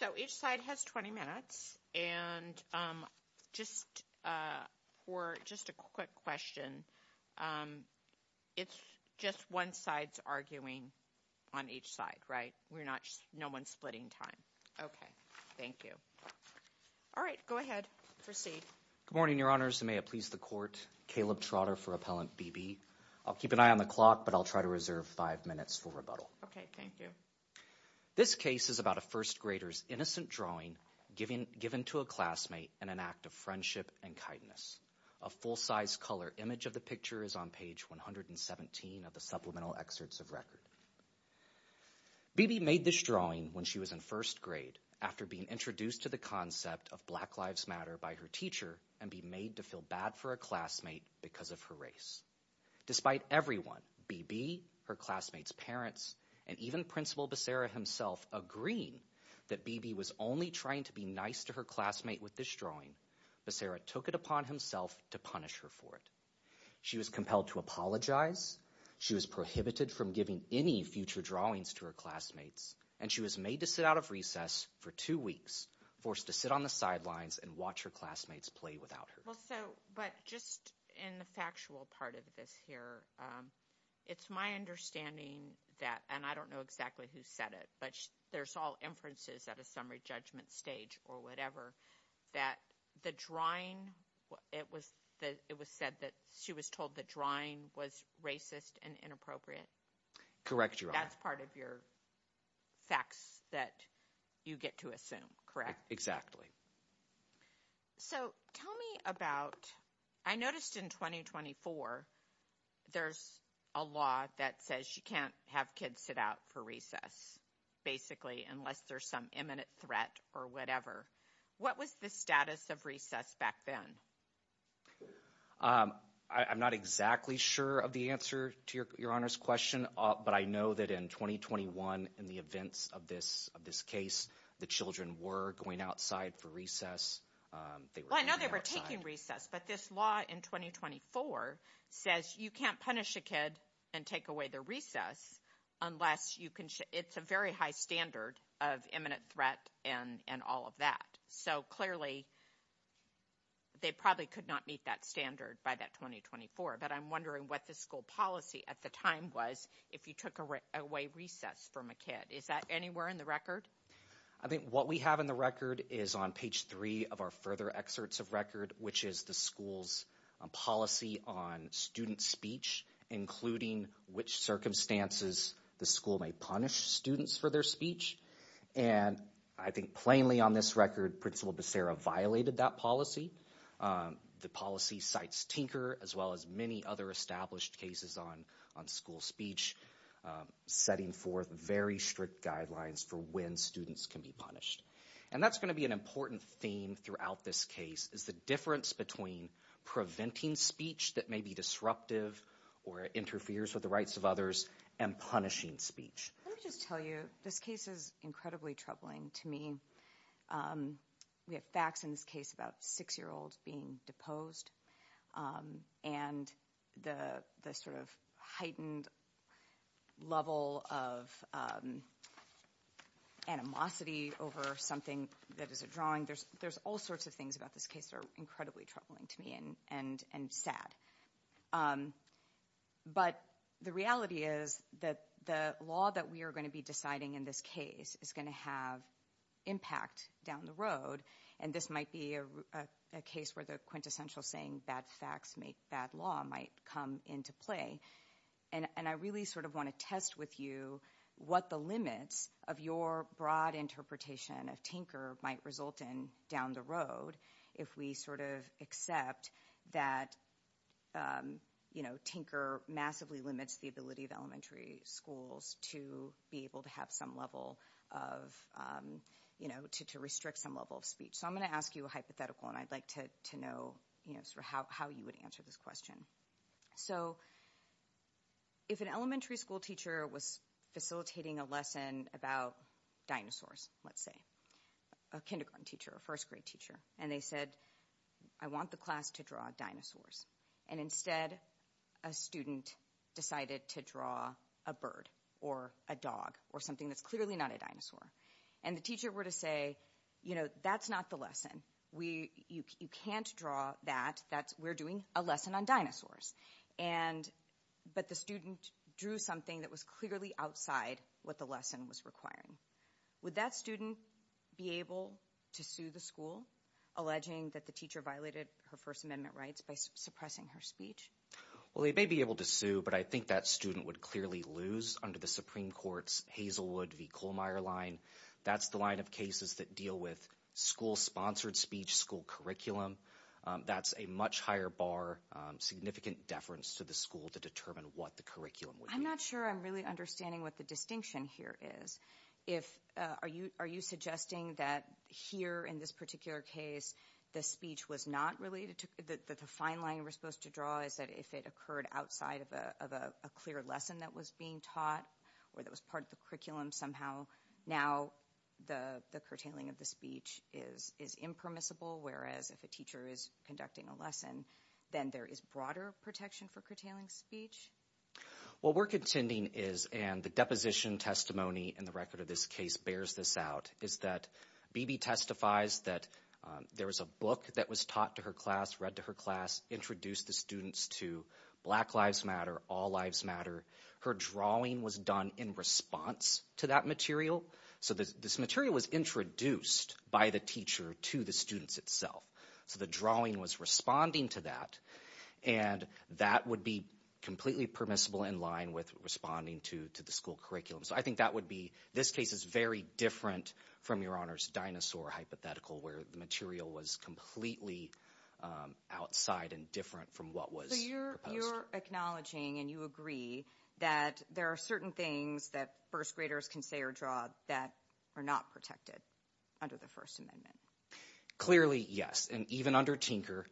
So each side has 20 minutes, and just for just a quick question, it's just one side's arguing on each side, right? We're not, no one's splitting time. Okay. Thank you. All right. Go ahead. Proceed. Good morning, Your Honors. May it please the Court. Caleb Trotter for Appellant B.B. I'll keep an eye on the clock, but I'll try to reserve five minutes for rebuttal. Okay. Thank you. This case is about a first grader's innocent drawing given to a classmate in an act of friendship and kindness. A full-size color image of the picture is on page 117 of the supplemental excerpts of record. B.B. made this drawing when she was in first grade after being introduced to the concept of Black Lives Matter by her teacher and be made to feel bad for a classmate because of her race. Despite everyone, B.B., her classmates' parents, and even Principal Becerra himself agreeing that B.B. was only trying to be nice to her classmate with this drawing, Becerra took it upon himself to punish her for it. She was compelled to apologize. She was prohibited from giving any future drawings to her classmates, and she was made to sit out of recess for two weeks, forced to sit on the sidelines and watch her classmates play without her. Well, so, but just in the factual part of this here, it's my understanding that, and I don't know exactly who said it, but there's all inferences at a summary judgment stage or whatever, that the drawing, it was said that she was told the drawing was racist and inappropriate. Correct, Your Honor. That's part of your facts that you get to assume, correct? Exactly. So, tell me about, I noticed in 2024, there's a law that says you can't have kids sit out for recess, basically, unless there's some imminent threat or whatever. What was the status of recess back then? I'm not exactly sure of the answer to Your Honor's question, but I know that in 2021, in the events of this case, the children were going outside for recess. Well, I know they were taking recess, but this law in 2024 says you can't punish a kid and take away their recess unless you can, it's a very high standard of imminent threat and all of that. So clearly, they probably could not meet that standard by that 2024, but I'm wondering what the school policy at the time was, if you took away recess from a kid, is that anywhere in the record? I think what we have in the record is on page three of our further excerpts of record, which is the school's policy on student speech, including which circumstances the school may punish students for their speech. And I think plainly on this record, Principal Becerra violated that policy. The policy cites Tinker, as well as many other established cases on school speech, setting forth very strict guidelines for when students can be punished. And that's going to be an important theme throughout this case, is the difference between preventing speech that may be disruptive or interferes with the rights of others and punishing speech. Let me just tell you, this case is incredibly troubling to me. We have facts in this case about a six-year-old being deposed and the sort of heightened level of animosity over something that is a drawing. There's all sorts of things about this case that are incredibly troubling to me and sad. But the reality is that the law that we are going to be deciding in this case is going to have impact down the road. And this might be a case where the quintessential saying, bad facts make bad law, might come into play. And I really sort of want to test with you what the limits of your broad interpretation of Tinker might result in down the road if we sort of accept that, you know, Tinker massively limits the ability of elementary schools to be able to have some level of, you know, to restrict some level of speech. So I'm going to ask you a hypothetical, and I'd like to know how you would answer this question. So if an elementary school teacher was facilitating a lesson about dinosaurs, let's say, a kindergarten teacher, a first grade teacher, and they said, I want the class to draw dinosaurs, and instead a student decided to draw a bird or a dog or something that's clearly not a dinosaur. And the teacher were to say, you know, that's not the lesson. You can't draw that. We're doing a lesson on dinosaurs. But the student drew something that was clearly outside what the lesson was requiring. Would that student be able to sue the school, alleging that the teacher violated her First Well, they may be able to sue, but I think that student would clearly lose under the Supreme Court's Hazelwood v. Kohlmeier line. That's the line of cases that deal with school-sponsored speech, school curriculum. That's a much higher bar, significant deference to the school to determine what the curriculum would be. I'm not sure I'm really understanding what the distinction here is. Are you suggesting that here in this particular case, the speech was not related to the fine line you were supposed to draw, is that if it occurred outside of a clear lesson that was being taught or that was part of the curriculum somehow, now the curtailing of the speech is impermissible, whereas if a teacher is conducting a lesson, then there is broader protection for curtailing speech? What we're contending is, and the deposition testimony in the record of this case bears this out, is that Beebe testifies that there was a book that was taught to her class, read to her class, introduced the students to Black Lives Matter, All Lives Matter. Her drawing was done in response to that material. So this material was introduced by the teacher to the students itself. So the drawing was responding to that, and that would be completely permissible in line with responding to the school curriculum. So I think that would be, this case is very different from Your Honor's dinosaur hypothetical where the material was completely outside and different from what was proposed. So you're acknowledging and you agree that there are certain things that first graders can say or draw that are not protected under the First Amendment? Clearly yes, and even under Tinker,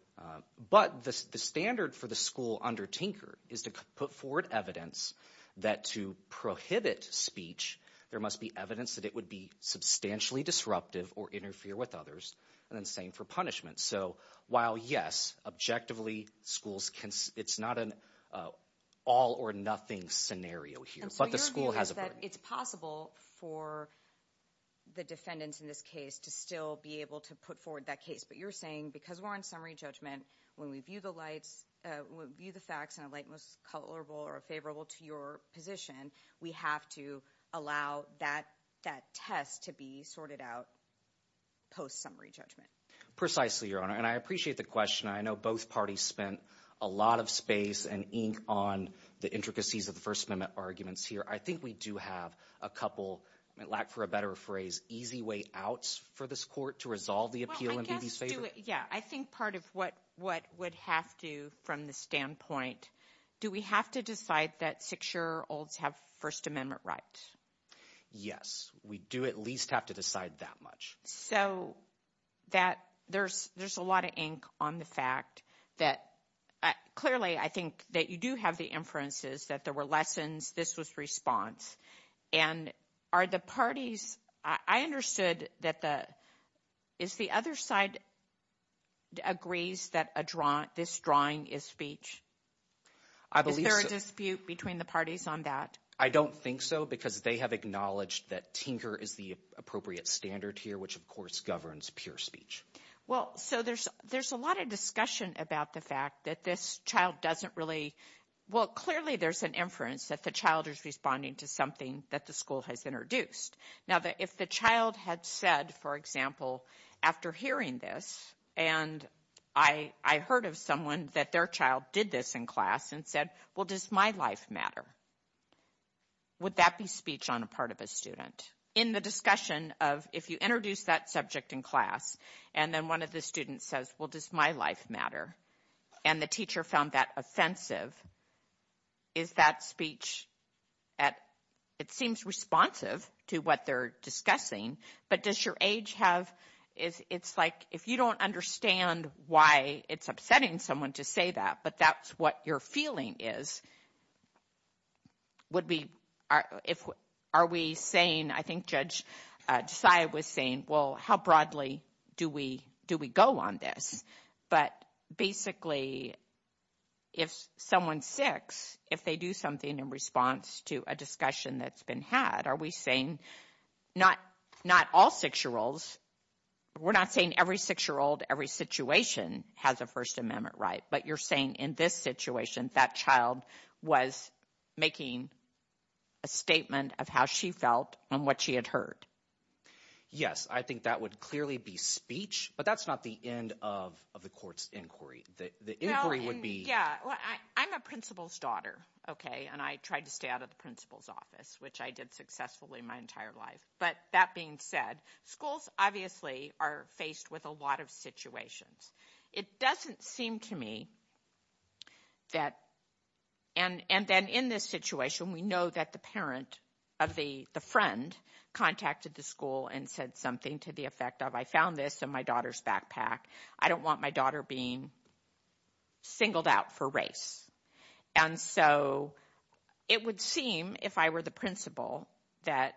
but the standard for the school under Tinker is to put forward evidence that to prohibit speech, there must be evidence that it would be substantially disruptive or interfere with others, and then same for punishment. So while yes, objectively schools can, it's not an all or nothing scenario here, but the school has a burden. And so your view is that it's possible for the defendants in this case to still be able to put forward that case, but you're saying because we're on summary judgment, when we view the facts in a light, most colorable or favorable to your position, we have to allow that test to be sorted out post-summary judgment? Precisely, Your Honor, and I appreciate the question. I know both parties spent a lot of space and ink on the intricacies of the First Amendment arguments here. I think we do have a couple, I mean, lack for a better phrase, easy way out for this court to resolve the appeal in B.B.'s favor. Yeah, I think part of what would have to, from the standpoint, do we have to decide that six-year-olds have First Amendment rights? Yes, we do at least have to decide that much. So that, there's a lot of ink on the fact that, clearly, I think that you do have the inferences that there were lessons, this was response, and are the parties, I understood that the, is the other side agrees that this drawing is speech? Is there a dispute between the parties on that? I don't think so, because they have acknowledged that tinker is the appropriate standard here, which of course governs pure speech. Well, so there's a lot of discussion about the fact that this child doesn't really, well, clearly there's an inference that the child is responding to something that the school has introduced. Now, if the child had said, for example, after hearing this, and I heard of someone that their child did this in class and said, well, does my life matter? Would that be speech on a part of a student? In the discussion of, if you introduce that subject in class, and then one of the students says, well, does my life matter? And the teacher found that offensive, is that speech at, it seems responsive to what they're discussing, but does your age have, it's like, if you don't understand why it's upsetting someone to say that, but that's what your feeling is, would we, are we saying, I think Judge Josiah was saying, well, how broadly do we go on this? But basically, if someone's six, if they do something in response to a discussion that's been had, are we saying, not all six-year-olds, we're not saying every six-year-old, every six-year-old has a First Amendment right, but you're saying in this situation, that child was making a statement of how she felt and what she had heard? Yes, I think that would clearly be speech, but that's not the end of the court's inquiry. The inquiry would be- Yeah, well, I'm a principal's daughter, okay? And I tried to stay out of the principal's office, which I did successfully my entire life. But that being said, schools obviously are faced with a lot of situations. It doesn't seem to me that, and then in this situation, we know that the parent of the friend contacted the school and said something to the effect of, I found this in my daughter's backpack, I don't want my daughter being singled out for race. And so it would seem, if I were the principal, that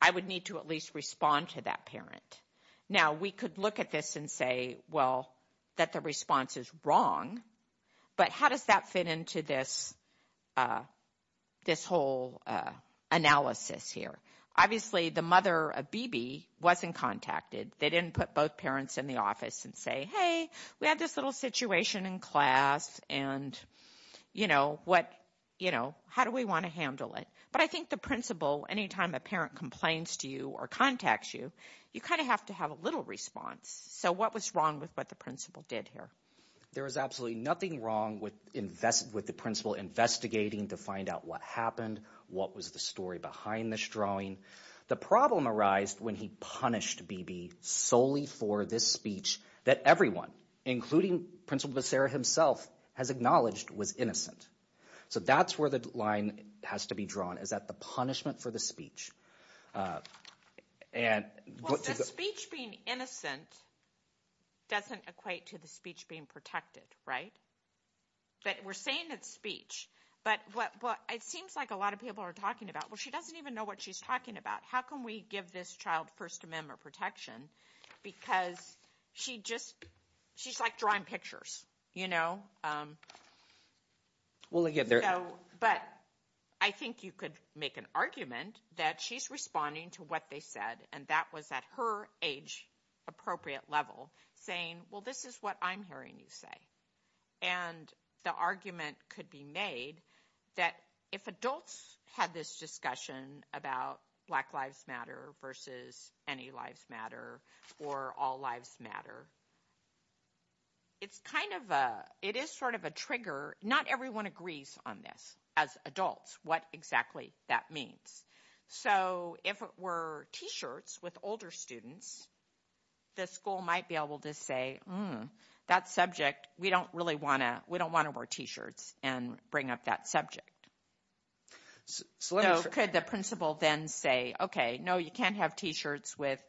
I would need to at least respond to that parent. Now, we could look at this and say, well, that the response is wrong, but how does that fit into this whole analysis here? Obviously, the mother of Bebe wasn't contacted. They didn't put both parents in the office and say, hey, we had this little situation in class and how do we want to handle it? But I think the principal, anytime a parent complains to you or contacts you, you kind of have to have a little response. So what was wrong with what the principal did here? There was absolutely nothing wrong with the principal investigating to find out what happened, what was the story behind this drawing. The problem arised when he punished Bebe solely for this speech that everyone, including Principal Becerra himself, has acknowledged was innocent. So that's where the line has to be drawn, is that the punishment for the speech and Well, the speech being innocent doesn't equate to the speech being protected, right? That we're saying it's speech, but it seems like a lot of people are talking about, well, she doesn't even know what she's talking about. How can we give this child First Amendment protection? Because she just, she's like drawing pictures, you know? But I think you could make an argument that she's responding to what they said and that was at her age appropriate level saying, well, this is what I'm hearing you say. And the argument could be made that if adults had this discussion about Black Lives Matter versus any lives matter or all lives matter, it's kind of a, it is sort of a trigger. Not everyone agrees on this as adults, what exactly that means. So if it were t-shirts with older students, the school might be able to say, that subject, we don't really want to, we don't want to wear t-shirts and bring up that subject. Could the principal then say, okay, no, you can't have t-shirts with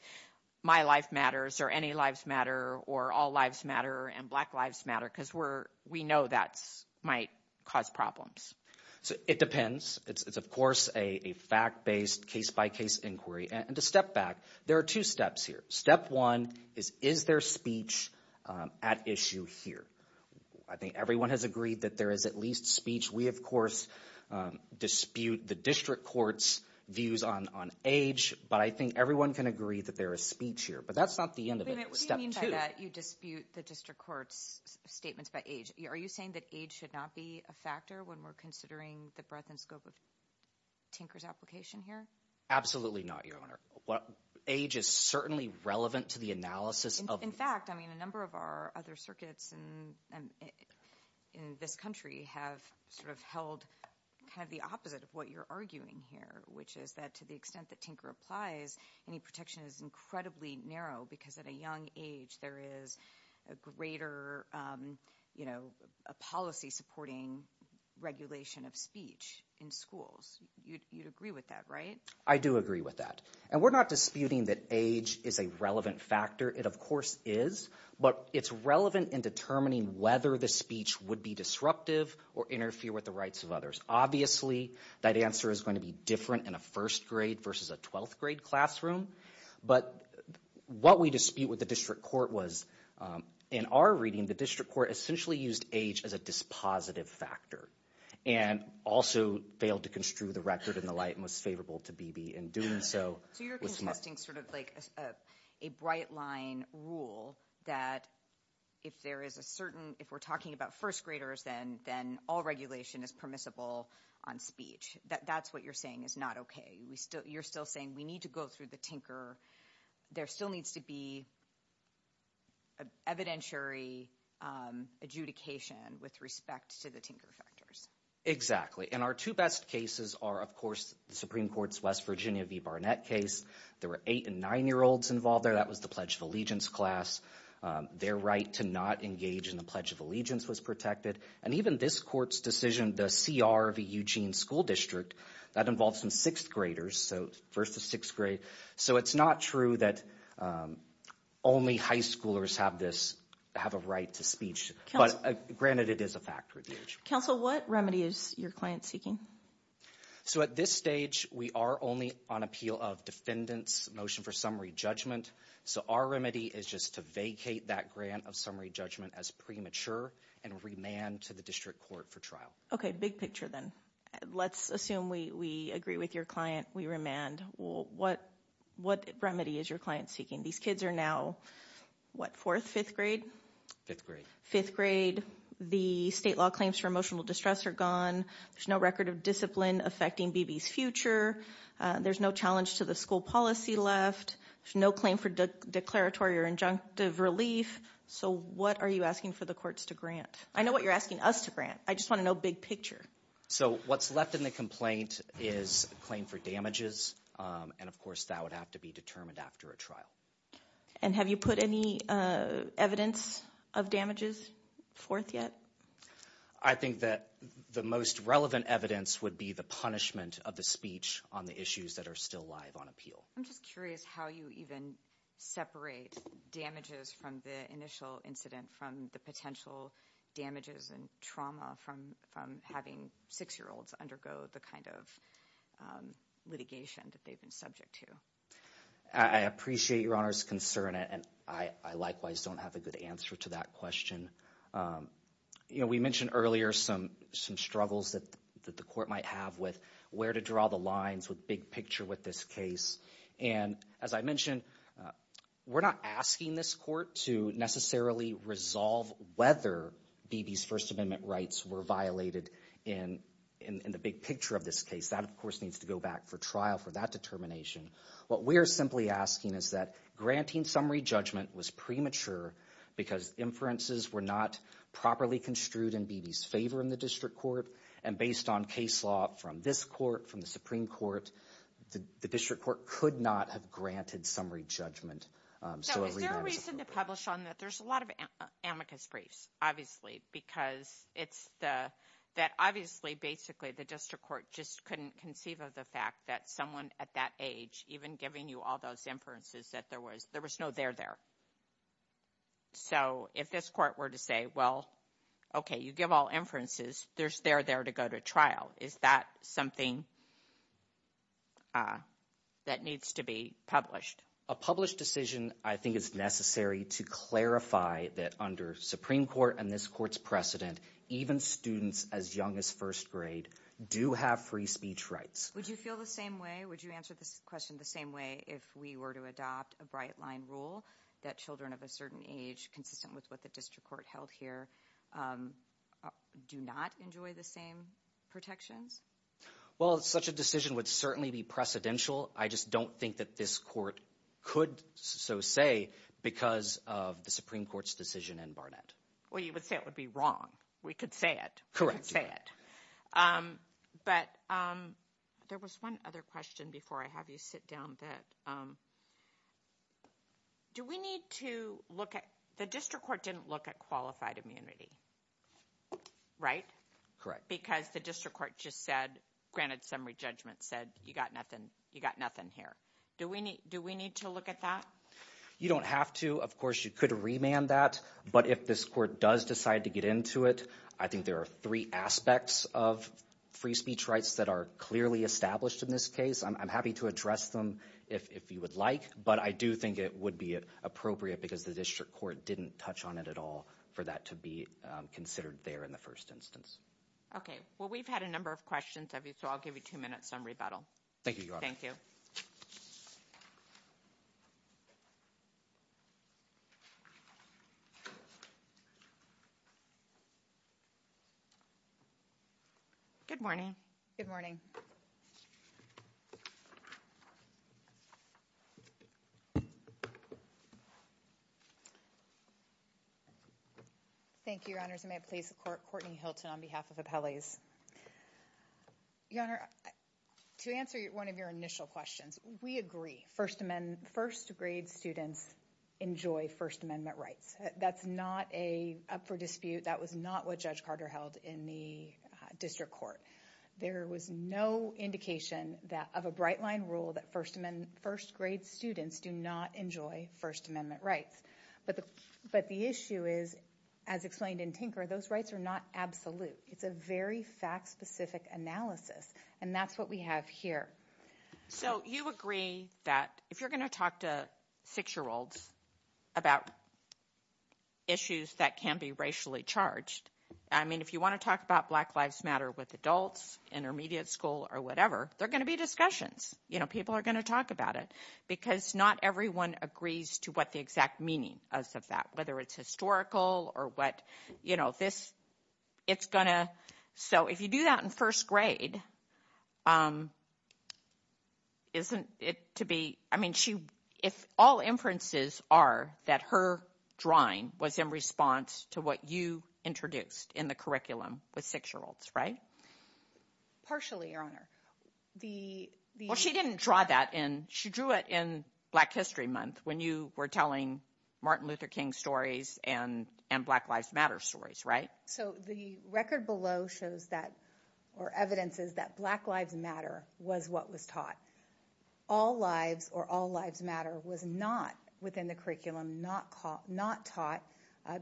my life matters or any lives matter or all lives matter and black lives matter because we're, we know that might cause problems. So it depends. It's of course a fact-based case-by-case inquiry. And to step back, there are two steps here. Step one is, is there speech at issue here? I think everyone has agreed that there is at least speech. We of course dispute the district court's views on age. But I think everyone can agree that there is speech here. But that's not the end of it. What do you mean by that you dispute the district court's statements about age? Are you saying that age should not be a factor when we're considering the breadth and scope of Tinker's application here? Absolutely not, Your Honor. Age is certainly relevant to the analysis of- In fact, I mean, a number of our other circuits in this country have sort of held kind of the opposite of what you're arguing here, which is that to the extent that Tinker applies, any protection is incredibly narrow. Because at a young age, there is a greater, you know, a policy supporting regulation of speech in schools. You'd agree with that, right? I do agree with that. And we're not disputing that age is a relevant factor. It of course is. But it's relevant in determining whether the speech would be disruptive or interfere with the rights of others. Obviously, that answer is going to be different in a first grade versus a twelfth grade classroom. But what we dispute with the district court was, in our reading, the district court essentially used age as a dispositive factor and also failed to construe the record in the light most favorable to Beebe in doing so. So you're contesting sort of like a bright line rule that if there is a certain, if we're talking about first graders, then all regulation is permissible on speech. That's what you're saying is not okay. You're still saying we need to go through the tinker. There still needs to be evidentiary adjudication with respect to the tinker factors. Exactly. And our two best cases are, of course, the Supreme Court's West Virginia v. Barnett case. There were eight and nine-year-olds involved there. That was the Pledge of Allegiance class. Their right to not engage in the Pledge of Allegiance was protected. And even this court's decision, the CR v. Eugene School District, that involves some sixth graders, so first to sixth grade. So it's not true that only high schoolers have a right to speech. But granted, it is a factor of age. Counsel, what remedy is your client seeking? So at this stage, we are only on appeal of defendant's motion for summary judgment. So our remedy is just to vacate that grant of summary judgment as premature and remand to the district court for trial. Okay, big picture then. Let's assume we agree with your client, we remand. What remedy is your client seeking? These kids are now, what, fourth, fifth grade? Fifth grade. The state law claims for emotional distress are gone. There's no record of discipline affecting BB's future. There's no challenge to the school policy left. There's no claim for declaratory or injunctive relief. So what are you asking for the courts to grant? I know what you're asking us to grant. I just want to know big picture. So what's left in the complaint is claim for damages. And of course, that would have to be determined after a trial. And have you put any evidence of damages forth yet? I think that the most relevant evidence would be the punishment of the speech on the issues that are still live on appeal. I'm just curious how you even separate damages from the initial incident, from the potential damages and trauma from having six-year-olds undergo the kind of litigation that they've been subject to. I appreciate Your Honor's concern. And I likewise don't have a good answer to that question. You know, we mentioned earlier some struggles that the court might have with where to draw the lines with big picture with this case. And as I mentioned, we're not asking this court to necessarily resolve whether Beebe's First Amendment rights were violated in the big picture of this case. That, of course, needs to go back for trial for that determination. What we're simply asking is that granting summary judgment was premature because inferences were not properly construed in Beebe's favor in the district court. And based on case law from this court, from the Supreme Court, the district court could not have granted summary judgment. So is there a reason to publish on that? There's a lot of amicus briefs, obviously, because it's the, that obviously, basically, the district court just couldn't conceive of the fact that someone at that age, even giving you all those inferences, that there was no there there. So if this court were to say, well, okay, you give all inferences, there's there there to go to trial. Is that something that needs to be published? A published decision, I think, is necessary to clarify that under Supreme Court and this court's precedent, even students as young as first grade do have free speech rights. Would you feel the same way? Would you answer this question the same way if we were to adopt a bright line rule that children of a certain age, consistent with what the district court held here, do not enjoy the same protections? Well, such a decision would certainly be precedential. I just don't think that this court could so say because of the Supreme Court's decision in Barnett. Well, you would say it would be wrong. We could say it. But there was one other question before I have you sit down that, um, do we need to look at the district court didn't look at qualified immunity, right? Correct. Because the district court just said, granted summary judgment said, you got nothing. You got nothing here. Do we need do we need to look at that? You don't have to. Of course, you could remand that. But if this court does decide to get into it, I think there are three aspects of free speech rights that are clearly established in this case. I'm happy to address them if you would like, but I do think it would be appropriate because the district court didn't touch on it at all for that to be considered there in the first instance. Okay. Well, we've had a number of questions of you, so I'll give you two minutes on rebuttal. Thank you. Good morning. Good morning. Thank you, Your Honors. May it please the court. Courtney Hilton on behalf of Appellees. Your Honor, to answer one of your initial questions, we agree First Amendment, first grade students enjoy First Amendment rights. That's not a up for dispute. That was not what Judge Carter held in the district court. There was no indication of a bright line rule that first grade students do not enjoy First Amendment rights. But the issue is, as explained in Tinker, those rights are not absolute. It's a very fact specific analysis. And that's what we have here. So you agree that if you're going to talk to six-year-olds about issues that can be racially charged, I mean, if you want to talk about Black Lives Matter with adults, intermediate school or whatever, they're going to be discussions. You know, people are going to talk about it because not everyone agrees to what the exact meaning is of that, whether it's historical or what, you know, this, it's going to. So if you do that in first grade, isn't it to be, I mean, if all inferences are that her drawing was in response to what you introduced in the curriculum with six-year-olds, right? Partially, Your Honor. Well, she didn't draw that in. She drew it in Black History Month when you were telling Martin Luther King stories and Black Lives Matter stories, right? So the record below shows that, or evidence is that Black Lives Matter was what was taught. All lives or all lives matter was not within the curriculum, not taught.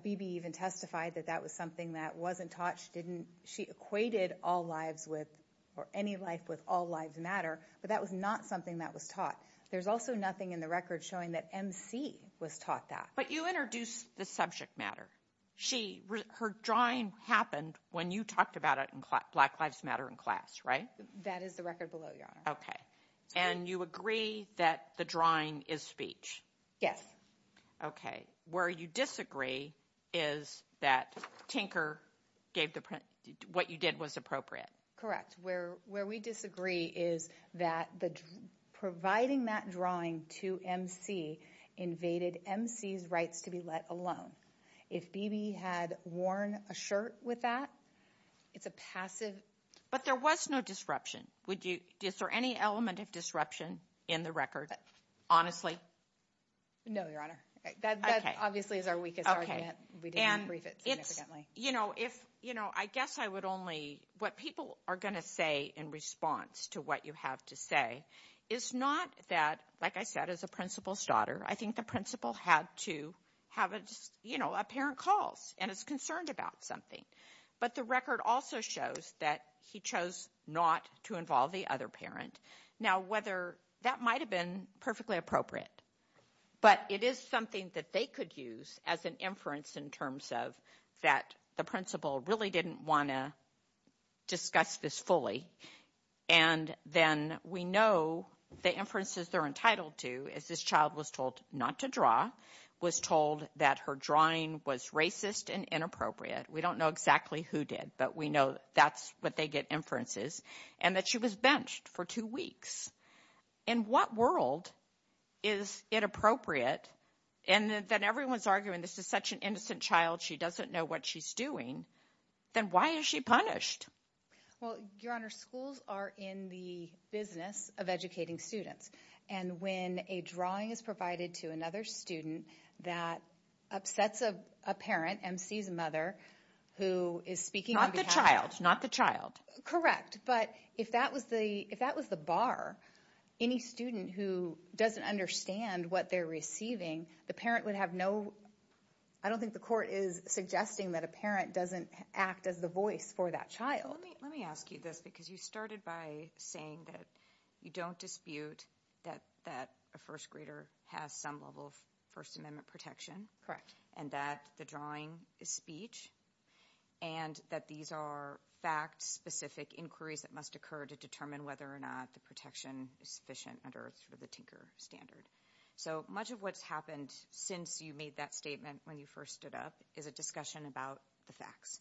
Beebe even testified that that was something that wasn't taught. She equated all lives with, or any life with all lives matter, but that was not something that was taught. There's also nothing in the record showing that MC was taught that. But you introduced the subject matter. Her drawing happened when you talked about it in Black Lives Matter in class, right? That is the record below, Your Honor. Okay. And you agree that the drawing is speech? Yes. Okay. Where you disagree is that Tinker gave the print, what you did was appropriate. Where we disagree is that providing that drawing to MC invaded MC's rights to be let alone. If Beebe had worn a shirt with that, it's a passive... But there was no disruption. Is there any element of disruption in the record, honestly? No, Your Honor. That obviously is our weakest argument. We didn't brief it significantly. I guess I would only... What people are going to say in response to what you have to say is not that, like I said, as a principal's daughter, I think the principal had to have a parent calls and is concerned about something. But the record also shows that he chose not to involve the other parent. Now, that might've been perfectly appropriate, but it is something that they could use as an inference in terms of that the principal really didn't want to discuss this fully. And then we know the inferences they're entitled to is this child was told not to draw, was told that her drawing was racist and inappropriate. We don't know exactly who did, but we know that's what they get inferences and that she was benched for two weeks. In what world is it appropriate? And then everyone's arguing, this is such an innocent child, she doesn't know what she's doing. Then why is she punished? Well, Your Honor, schools are in the business of educating students. And when a drawing is provided to another student that upsets a parent, MC's mother, who is speaking on behalf of... Not the child, not the child. Correct. But if that was the bar, any student who doesn't understand what they're receiving, the parent would have no... I don't think the court is suggesting that a parent doesn't act as the voice for that child. Let me ask you this because you started by saying that you don't dispute that a first grader has some level of First Amendment protection. Correct. And that the drawing is speech and that these are fact-specific inquiries that must occur to determine whether or not the protection is sufficient under the Tinker Standard. So much of what's happened since you made that statement when you first stood up is a discussion about the facts.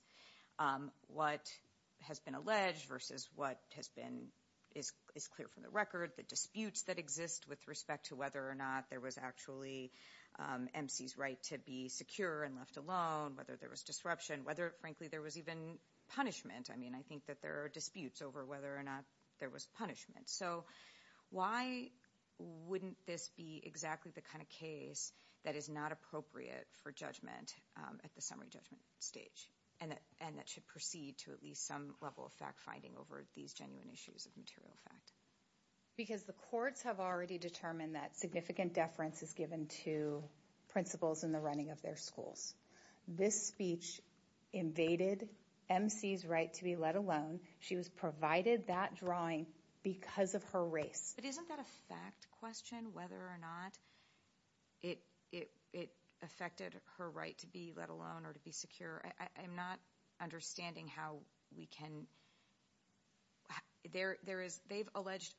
What has been alleged versus what is clear from the record, the disputes that exist with respect to whether or not there was actually MC's right to be secure and left alone, whether there was disruption, whether, frankly, there was even punishment. I mean, I think that there are disputes over whether or not there was punishment. So why wouldn't this be exactly the kind of case that is not appropriate for judgment at the summary judgment stage? And that should proceed to at least some level of fact-finding over these genuine issues of material fact. Because the courts have already determined that significant deference is given to principals in the running of their schools. This speech invaded MC's right to be let alone. She was provided that drawing because of her race. But isn't that a fact question, whether or not it affected her right to be let alone or to be secure? I'm not understanding how we can... They've alleged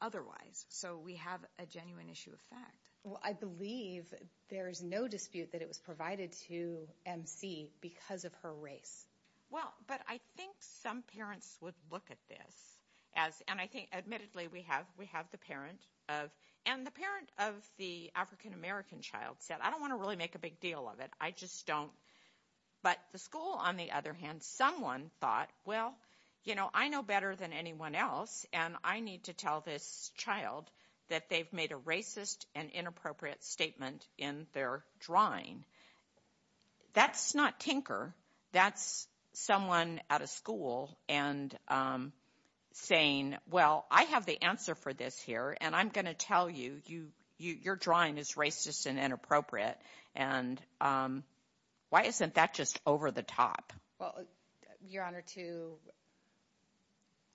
otherwise. So we have a genuine issue of fact. Well, I believe there is no dispute that it was provided to MC because of her race. Well, but I think some parents would look at this as... And I think, admittedly, we have the parent of... And the parent of the African-American child said, I don't want to really make a big deal of it. I just don't. But the school, on the other hand, someone thought, well, you know, I know better than anyone else. And I need to tell this child that they've made a racist and inappropriate statement in their drawing. That's not tinker. That's someone at a school and saying, well, I have the answer for this here. And I'm going to tell you, your drawing is racist and inappropriate. And why isn't that just over the top? Well, Your Honor, to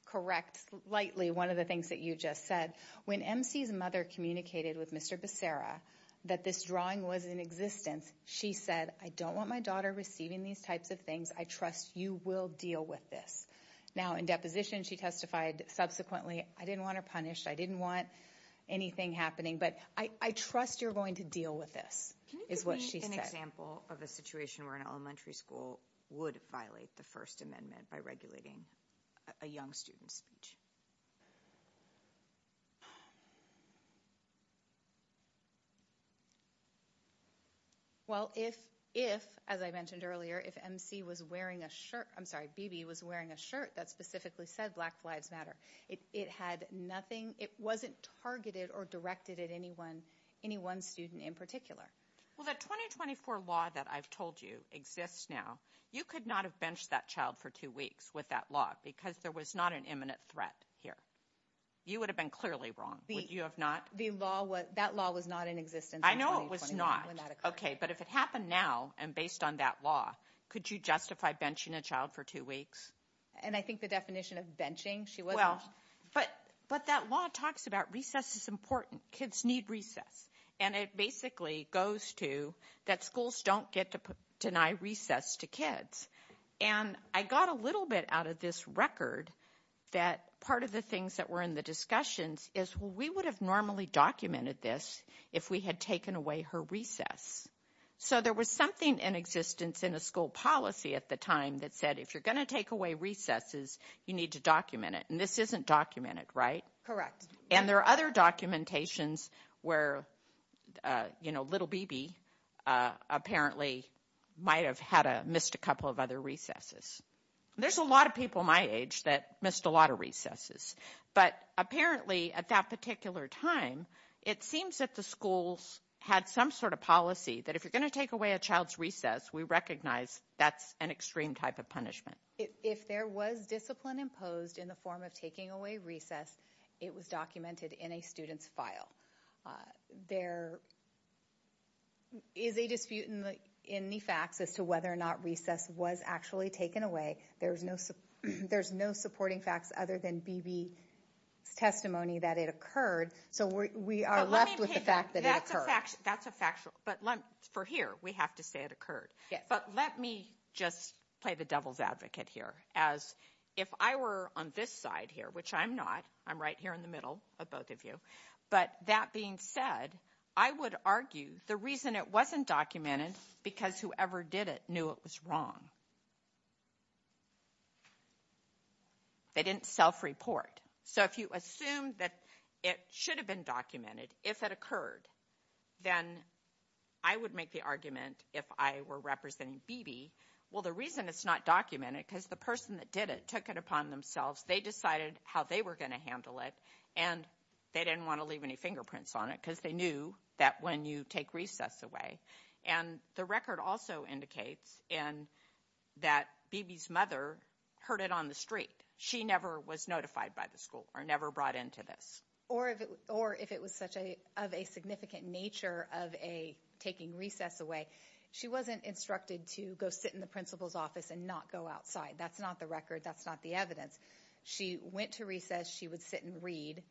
correct lightly, one of the things that you just said, when MC's mother communicated with Mr. Becerra that this drawing was in existence, she said, I don't want my daughter receiving these types of things. I trust you will deal with this. Now, in deposition, she testified subsequently, I didn't want her punished. I didn't want anything happening. But I trust you're going to deal with this, is what she said. Can you give me an example of a situation where an elementary school would violate the First Amendment by regulating a young student's speech? Well, if, as I mentioned earlier, if MC was wearing a shirt, I'm sorry, BB was wearing a shirt that specifically said Black Lives Matter, it had nothing, it wasn't targeted or directed at anyone, any one student in particular. Well, the 2024 law that I've told you exists now. You could not have benched that child for two weeks with that law because there was not an imminent threat here. You would have been clearly wrong, would you have not? The law was, that law was not in existence. I know it was not. Okay, but if it happened now, and based on that law, could you justify benching a child for two weeks? And I think the definition of benching, she wasn't. But that law talks about recess is important. Kids need recess. And it basically goes to that schools don't get to deny recess to kids. And I got a little bit out of this record that part of the things that were in the discussions is, well, we would have normally documented this if we had taken away her recess. So there was something in existence in a school policy at the time that said, if you're gonna take away recesses, you need to document it. And this isn't documented, right? Correct. And there are other documentations where, you know, little BB apparently might have had a missed a couple of other recesses. There's a lot of people my age that missed a lot of recesses. But apparently at that particular time, it seems that the schools had some sort of policy that if you're gonna take away a child's recess, we recognize that's an extreme type of punishment. If there was discipline imposed in the form of taking away recess, it was documented in a student's file. There is a dispute in the facts as to whether or not recess was actually taken away. There's no supporting facts other than BB's testimony that it occurred. So we are left with the fact that it occurred. That's a factual. But for here, we have to say it occurred. But let me just play the devil's advocate here as if I were on this side here, which I'm not, I'm right here in the middle of both of you. But that being said, I would argue the reason it wasn't documented because whoever did it knew it was wrong. They didn't self-report. So if you assume that it should have been documented if it occurred, then I would make the argument if I were representing BB. Well, the reason it's not documented because the person that did it took it upon themselves. They decided how they were gonna handle it and they didn't wanna leave any fingerprints on it because they knew that when you take recess away. And the record also indicates that BB's mother heard it on the street. She never was notified by the school or never brought into this. Or if it was such of a significant nature of a taking recess away, she wasn't instructed to go sit in the principal's office and not go outside. That's not the record. That's not the evidence. She went to recess. She would sit and read.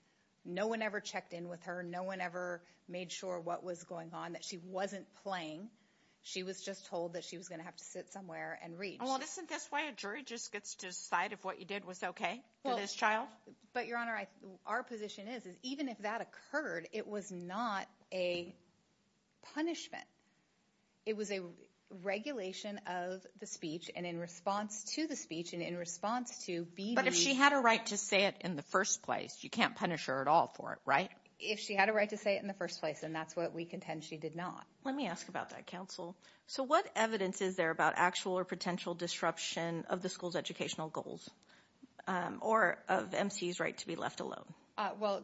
No one ever checked in with her. No one ever made sure what was going on that she wasn't playing. She was just told that she was gonna have to sit somewhere and read. Well, isn't this why a jury just gets to decide if what you did was okay for this child? But Your Honor, our position is, is even if that occurred, it was not a punishment. It was a regulation of the speech and in response to the speech and in response to BB. But if she had a right to say it in the first place, you can't punish her at all for it, right? If she had a right to say it in the first place and that's what we contend she did not. Let me ask about that, counsel. So what evidence is there about actual or potential disruption of the school's educational goals or of MC's right to be left alone? Well,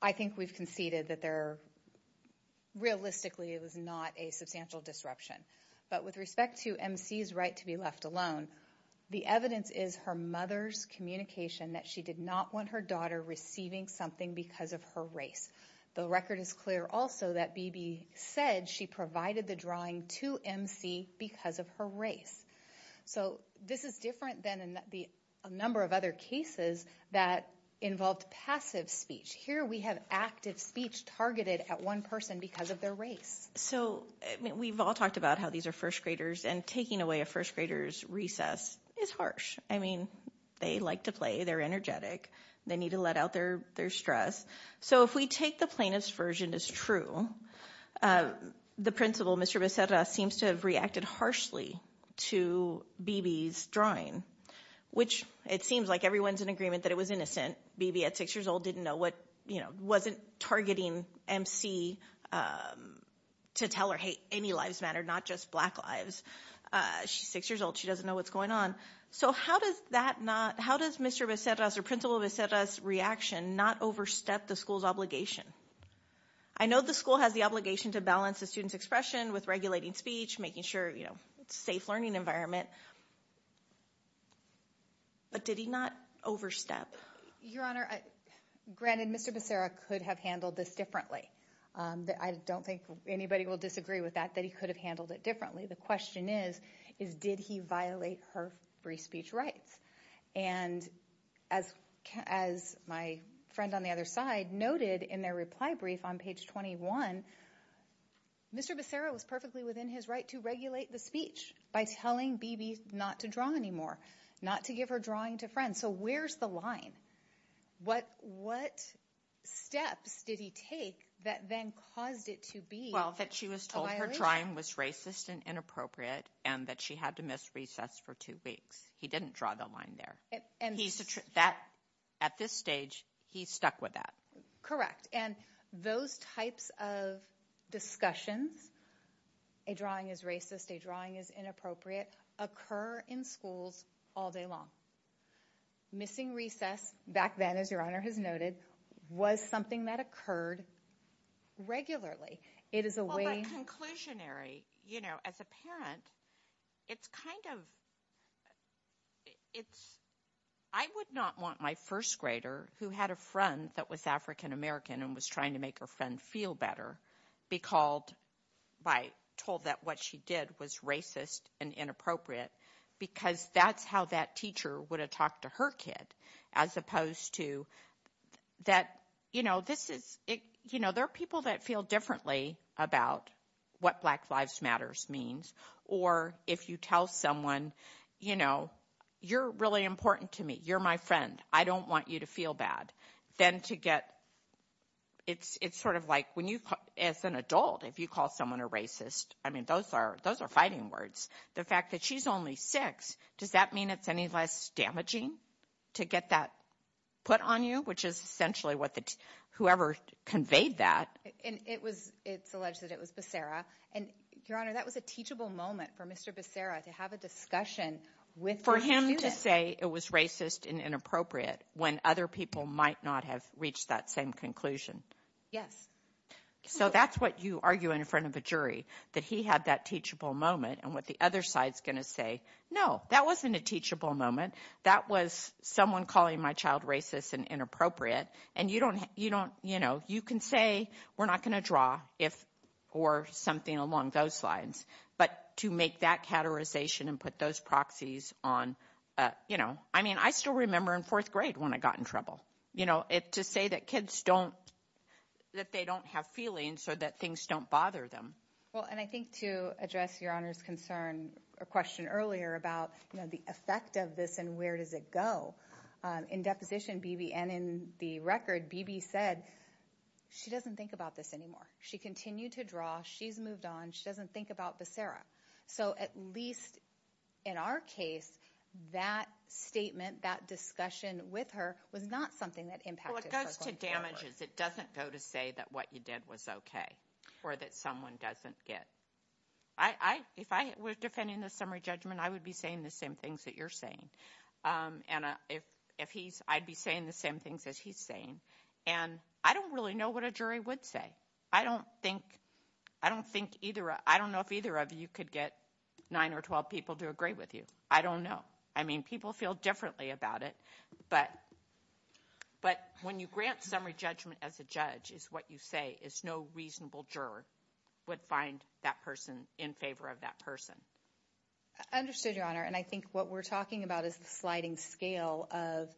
I think we've conceded that there, realistically, it was not a substantial disruption. But with respect to MC's right to be left alone, the evidence is her mother's communication that she did not want her daughter receiving something because of her race. The record is clear also that BB said she provided the drawing to MC because of her race. So this is different than a number of other cases that involved passive speech. Here we have active speech targeted at one person because of their race. So we've all talked about how these are first graders and taking away a first grader's recess is harsh. I mean, they like to play, they're energetic, they need to let out their stress. So if we take the plaintiff's version as true, the principal, Mr. Becerra, seems to have reacted harshly to BB's drawing, which it seems like everyone's in agreement that it was innocent. BB, at six years old, didn't know what, you know, wasn't targeting MC to tell her, hey, any lives matter, not just black lives. She's six years old, she doesn't know what's going on. So how does that not, how does Mr. Becerra's reaction not overstep the school's obligation? I know the school has the obligation to balance the student's expression with regulating speech, making sure, you know, it's a safe learning environment. But did he not overstep? Your Honor, granted, Mr. Becerra could have handled this differently. I don't think anybody will disagree with that, that he could have handled it differently. The question is, is did he violate her free speech rights? And as my friend on the other side noted in their reply brief on page 21, Mr. Becerra was perfectly within his right to regulate the speech by telling BB not to draw anymore, not to give her drawing to friends. So where's the line? What steps did he take that then caused it to be a violation? Well, that she was told her drawing was racist and inappropriate, and that she had to miss recess for two weeks. He didn't draw the line there. At this stage, he stuck with that. Correct. And those types of discussions, a drawing is racist, a drawing is inappropriate, occur in schools all day long. Missing recess back then, as Your Honor has noted, was something that occurred regularly. It is a way- Well, but conclusionary, you know, as a parent, it's kind of, it's, I would not want my first grader, who had a friend that was African-American and was trying to make her friend feel better, be called by, told that what she did was racist and inappropriate because that's how that teacher would have talked to her kid, as opposed to that, you know, this is, you know, there are people that feel differently about what Black Lives Matters means, or if you tell someone, you know, you're really important to me. You're my friend. I don't want you to feel bad. Then to get, it's sort of like, when you, as an adult, if you call someone a racist, I mean, those are fighting words. The fact that she's only six, does that mean it's any less damaging to get that put on you? Which is essentially what the, whoever conveyed that. And it was, it's alleged that it was Becerra. And Your Honor, that was a teachable moment for Mr. Becerra to have a discussion with- For him to say it was racist and inappropriate when other people might not have reached that same conclusion. Yes. So that's what you argue in front of a jury, that he had that teachable moment. And what the other side's going to say, no, that wasn't a teachable moment. That was someone calling my child racist and inappropriate. And you don't, you don't, you know, you can say, we're not going to draw if, or something along those lines. But to make that categorization and put those proxies on, you know, I mean, I still remember in fourth grade when I got in trouble. You know, to say that kids don't, that they don't have feelings so that things don't bother them. Well, and I think to address Your Honor's concern, a question earlier about, you know, the effect of this and where does it go. In deposition, Bibi, and in the record, Bibi said, she doesn't think about this anymore. She continued to draw. She's moved on. She doesn't think about Becerra. So at least in our case, that statement, that discussion with her was not something that impacted her going forward. Well, it goes to damages. It doesn't go to say that what you did was okay or that someone doesn't get. I, if I was defending the summary judgment, I would be saying the same things that you're saying. And if he's, I'd be saying the same things as he's saying. And I don't really know what a jury would say. I don't think, I don't think either, I don't know if either of you could get nine or 12 people to agree with you. I don't know. I mean, people feel differently about it, but when you grant summary judgment as a judge is what you say is no reasonable juror would find that person in favor of that person. I understood, Your Honor. And I think what we're talking about is the sliding scale of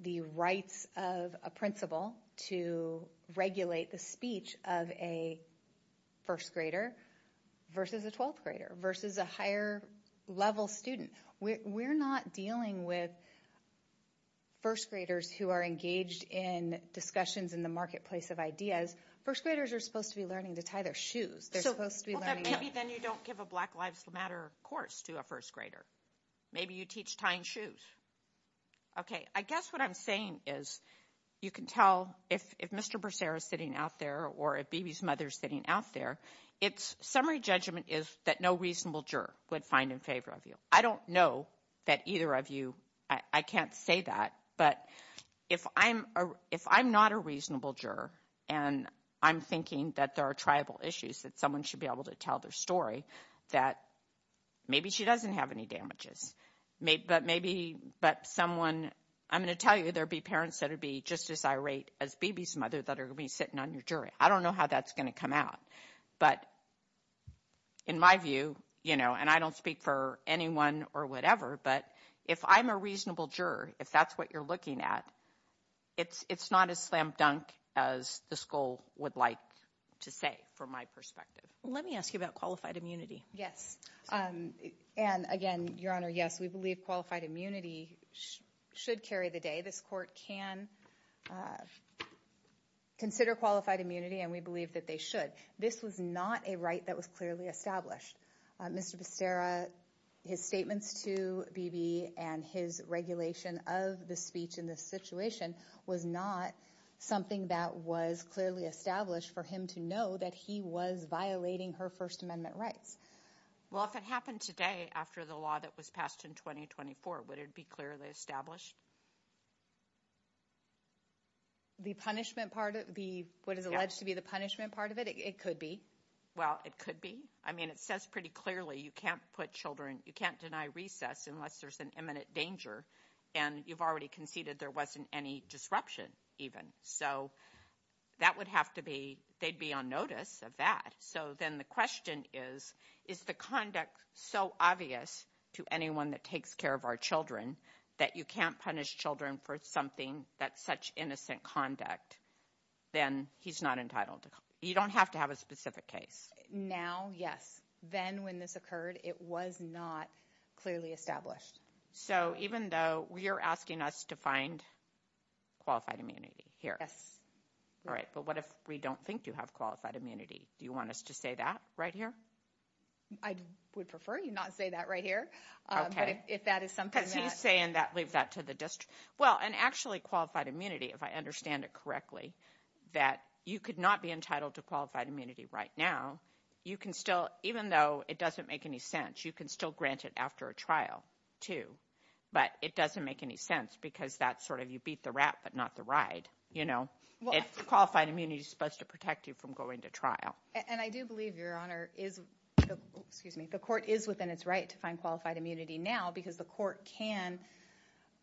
the rights of a principal to regulate the speech of a first grader versus a 12th grader versus a higher level student. We're not dealing with first graders who are engaged in discussions in the marketplace of ideas. First graders are supposed to be learning to tie their shoes. They're supposed to be learning. Maybe then you don't give a Black Lives Matter course to a first grader. Maybe you teach tying shoes. Okay. I guess what I'm saying is you can tell if Mr. Brassera is sitting out there or if Bebe's mother's sitting out there, it's summary judgment is that no reasonable juror would find in favor of you. I don't know that either of you, I can't say that, but if I'm not a reasonable juror and I'm thinking that there are tribal issues that someone should be able to tell their story, that maybe she doesn't have any damages, but maybe someone, I'm going to tell you, there'd be parents that would be just as irate as Bebe's mother that are going to be sitting on your jury. I don't know how that's going to come out, but in my view, and I don't speak for anyone or whatever, but if I'm a reasonable juror, if that's what you're looking at, it's not as slam dunk as the school would like to say from my perspective. Let me ask you about qualified immunity. Yes, and again, Your Honor, yes, we believe qualified immunity should carry the day. This court can consider qualified immunity and we believe that they should. This was not a right that was clearly established. Mr. Becerra, his statements to Bebe and his regulation of the speech in this situation was not something that was clearly established for him to know that he was violating her First Amendment rights. Well, if it happened today, after the law that was passed in 2024, would it be clearly established? The punishment part of the, what is alleged to be the punishment part of it, it could be. Well, it could be. I mean, it says pretty clearly, you can't put children, you can't deny recess unless there's an imminent danger and you've already conceded there wasn't any disruption even. So that would have to be, they'd be on notice of that. So then the question is, is the conduct so obvious to anyone that takes care of our children that you can't punish children for something that's such innocent conduct? Then he's not entitled. You don't have to have a specific case. Now, yes. Then when this occurred, it was not clearly established. So even though we are asking us to find qualified immunity here. Yes. All right, but what if we don't think you have qualified immunity? Do you want us to say that right here? I would prefer you not say that right here. But if that is something that- Because he's saying that, leave that to the district. Well, and actually qualified immunity, if I understand it correctly, that you could not be entitled to qualified immunity right now. You can still, even though it doesn't make any sense, you can still grant it after a trial too. But it doesn't make any sense because that's sort of you beat the rat, but not the ride. If qualified immunity is supposed to protect you from going to trial. And I do believe, Your Honor, the court is within its right to find qualified immunity now because the court can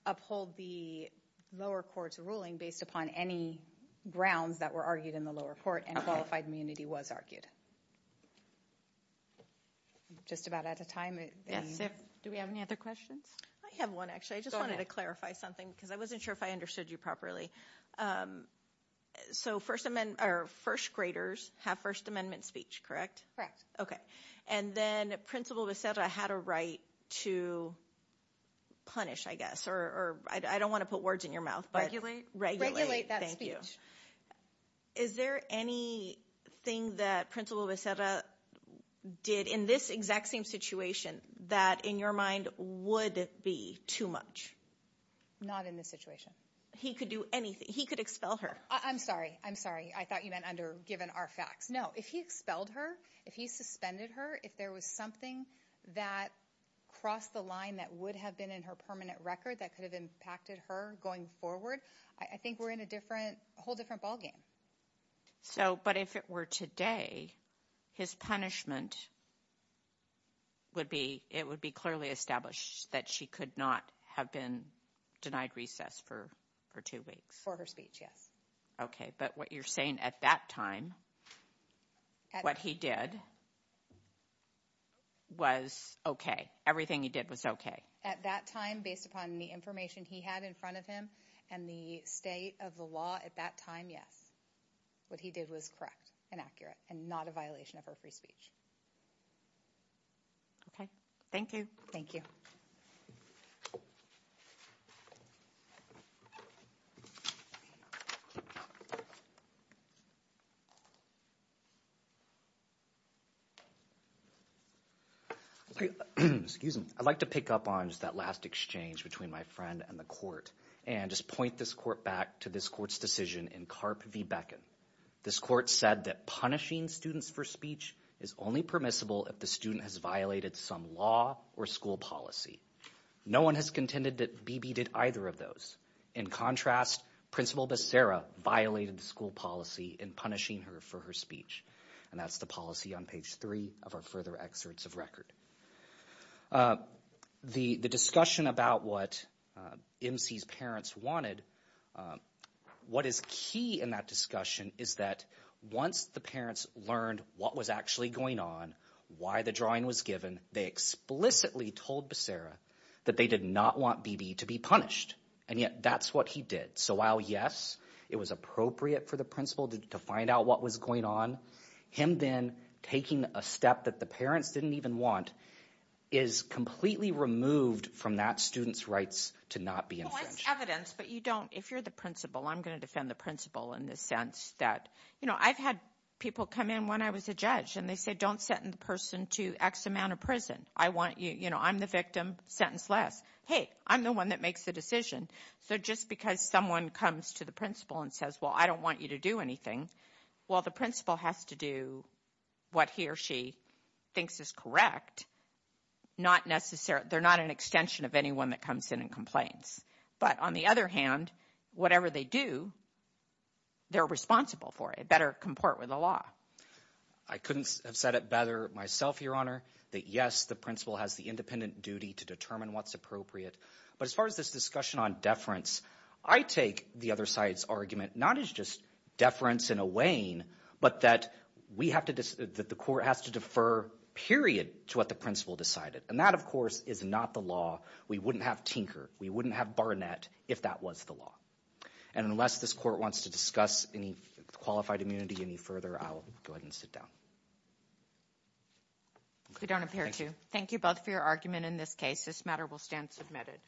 uphold the lower court's ruling based upon any grounds that were argued in the lower court and qualified immunity was argued. Just about out of time. Do we have any other questions? I have one, actually. I just wanted to clarify something because I wasn't sure if I understood you properly. So first graders have First Amendment speech, correct? Okay. And then Principal Becerra had a right to punish, I guess, or I don't want to put words in your mouth, but regulate that speech. Is there anything that Principal Becerra did in this exact same situation that in your mind would be too much? Not in this situation. He could do anything. He could expel her. I'm sorry. I'm sorry. I thought you meant under given our facts. No, if he expelled her, if he suspended her, if there was something that crossed the line that would have been in her permanent record that could have impacted her going forward, I think we're in a different, whole different ballgame. So, but if it were today, his punishment would be, it would be clearly established that she could not have been denied recess for two weeks. For her speech, yes. Okay. But what you're saying at that time, what he did was okay. Everything he did was okay. At that time, based upon the information he had in front of him and the state of the law at that time, yes, what he did was correct and accurate and not a violation of her free speech. Okay. Thank you. Thank you. Okay. Excuse me. I'd like to pick up on just that last exchange between my friend and the court and just point this court back to this court's decision in CARP v. Beckin. This court said that punishing students for speech is only permissible if the student has violated some law or school policy. No one has contended that Bibi did either of those. In contrast, Principal Becerra violated the school policy in punishing her for her speech. And that's the policy on page three of our further excerpts of record. The discussion about what MC's parents wanted, what is key in that discussion is that once the parents learned what was actually going on, why the drawing was given, they explicitly told Becerra that they did not want Bibi to be punished. And yet that's what he did. So while, yes, it was appropriate for the principal to find out what was going on, him then taking a step that the parents didn't even want is completely removed from that student's rights to not be infringed. Well, it's evidence, but you don't, if you're the principal, I'm going to defend the principal in the sense that, you know, I've had people come in when I was a judge and they said, don't sentence the person to X amount of prison. I want you, you know, I'm the victim, sentence less. Hey, I'm the one that makes the decision. So just because someone comes to the principal and says, well, I don't want you to do anything. Well, the principal has to do what he or she thinks is correct. Not necessarily, they're not an extension of anyone that comes in and complains. But on the other hand, whatever they do, they're responsible for it. Better comport with the law. I couldn't have said it better myself, Your Honor, that yes, the principal has the independent duty to determine what's appropriate. But as far as this discussion on deference, I take the other side's argument, not as just deference in a way, but that we have to, that the court has to defer, period, to what the principal decided. And that, of course, is not the law. We wouldn't have Tinker. We wouldn't have Barnett if that was the law. And unless this court wants to discuss any qualified immunity any further, I'll go ahead and sit down. We don't appear to. Thank you both for your argument in this case. This matter will stand submitted.